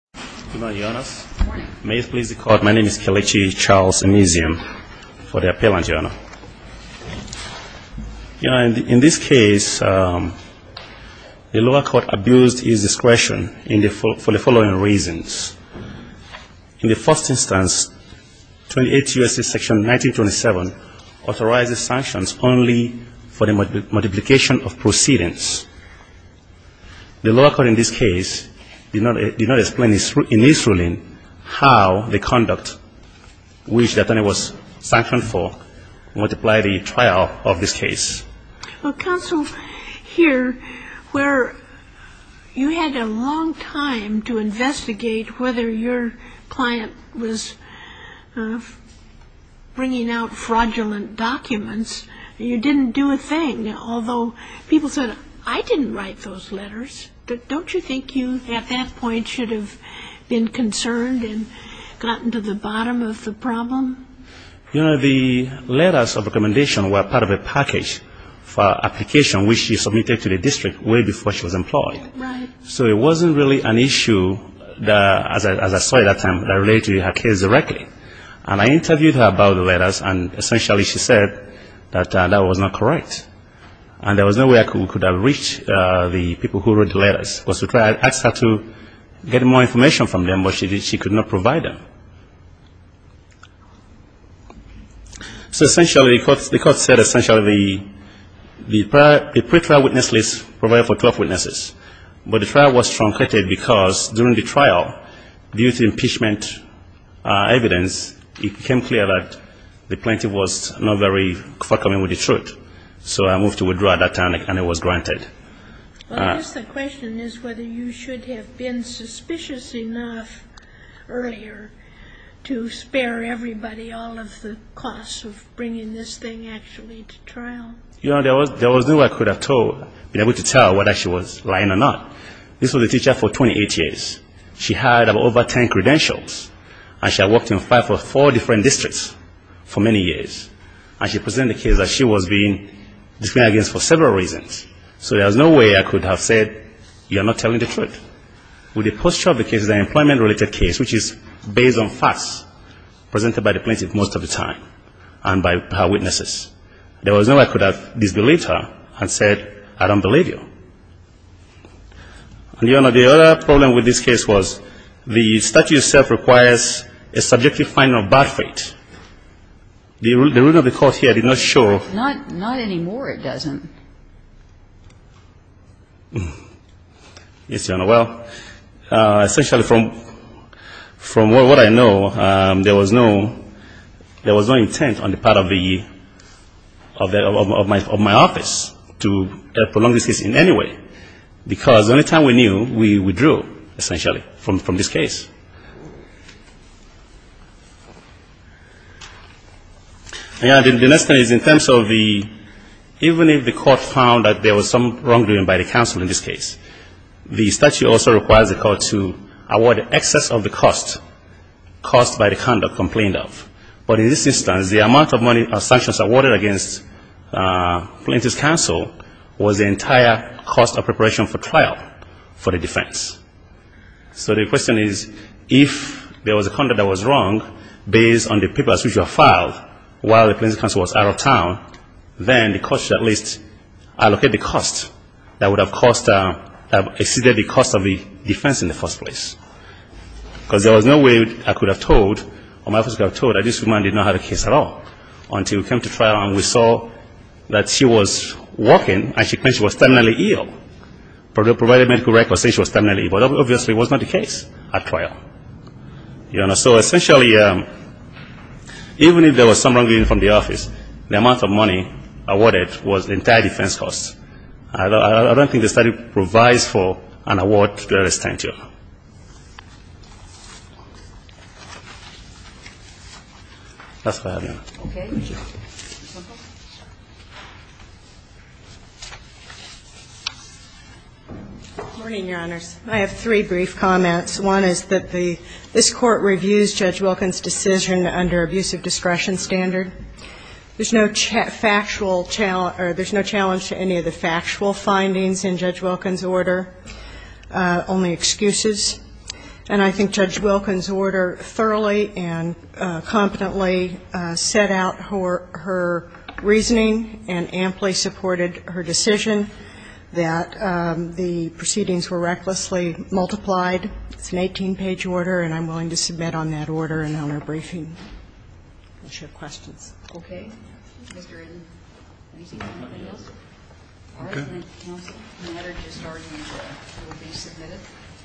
Good morning, Your Honors. May it please the Court, my name is Kelechi Charles Emezium for the appellant, Your Honor. You know, in this case, the lower court abused his discretion for the following reasons. In the first instance, 28 U.S.C. Section 1927 authorizes sanctions only for the multiplication of proceedings. The lower court in this case did not explain in this ruling how the conduct which the attorney was sanctioned for multiplied the trial of this case. Well, counsel, here, where you had a long time to investigate whether your client was bringing out fraudulent documents, you didn't do a thing. Although people said, I didn't write those letters. Don't you think you, at that point, should have been concerned and gotten to the bottom of the problem? You know, the letters of recommendation were part of a package for application which she submitted to the district way before she was employed. So it wasn't really an issue, as I said at that time, that related to her case directly. And I interviewed her about the letters, and essentially she said that that was not correct. And there was no way I could have reached the people who wrote the letters. I asked her to get more information from them, but she could not provide them. So essentially, the court said essentially the pre-trial witness list provided for clerk witnesses. But the trial was trumpeted because during the trial, due to impeachment evidence, it became clear that the plaintiff was not very welcoming with the truth. So I moved to withdraw at that time, and it was granted. Well, I guess the question is whether you should have been suspicious enough earlier to spare everybody all of the costs of bringing this thing actually to trial. You know, there was no way I could have told, been able to tell whether she was lying or not. This was a teacher for 28 years. She had over 10 credentials, and she had worked in five or four different districts for many years. And she presented the case that she was being discriminated against for several reasons. So there was no way I could have said you are not telling the truth. With the posture of the case, the employment-related case, which is based on facts presented by the plaintiff most of the time and by her witnesses, there was no way I could have disbelieved her and said I don't believe you. And, Your Honor, the other problem with this case was the statute itself requires a subjective finding of bad fate. The rule of the court here did not show. Not anymore, it doesn't. Yes, Your Honor. Well, essentially from what I know, there was no intent on the part of the, of my office to prolong this case in any way, because the only time we knew, we withdrew, essentially, from this case. Your Honor, the next thing is in terms of the, even if the court found that there was some wrongdoing by the counsel in this case, the statute also requires the court to award excess of the cost, cost by the conduct complained of. But in this instance, the amount of money or sanctions awarded against Plaintiff's counsel was the entire cost of preparation for trial for the defense. So the question is if there was a conduct that was wrong based on the papers which were filed while the plaintiff's counsel was out of town, then the court should at least allocate the cost that would have cost, exceeded the cost of the defense in the first place. Because there was no way I could have told or my office could have told that this woman did not have a case at all until we came to trial and we saw that she was walking and she was terminally ill, provided medical records say she was terminally ill. But obviously it was not the case at trial. Your Honor, so essentially, even if there was some wrongdoing from the office, the amount of money awarded was the entire defense cost. I don't think the study provides for an award that is tantamount. That's all I have, Your Honor. Okay. Thank you. Good morning, Your Honors. I have three brief comments. One is that the, this Court reviews Judge Wilkins' decision under abusive discretion standard. There's no factual, there's no challenge to any of the factual findings in Judge Wilkins' order. Only excuses. And I think Judge Wilkins' order thoroughly and competently set out her reasoning and amply supported her decision that the proceedings were recklessly multiplied. It's an 18-page order, and I'm willing to submit on that order and on her briefing. Does she have questions? Okay. Mr. Witten, anything else? Okay. All right. Then the order just started and will be submitted.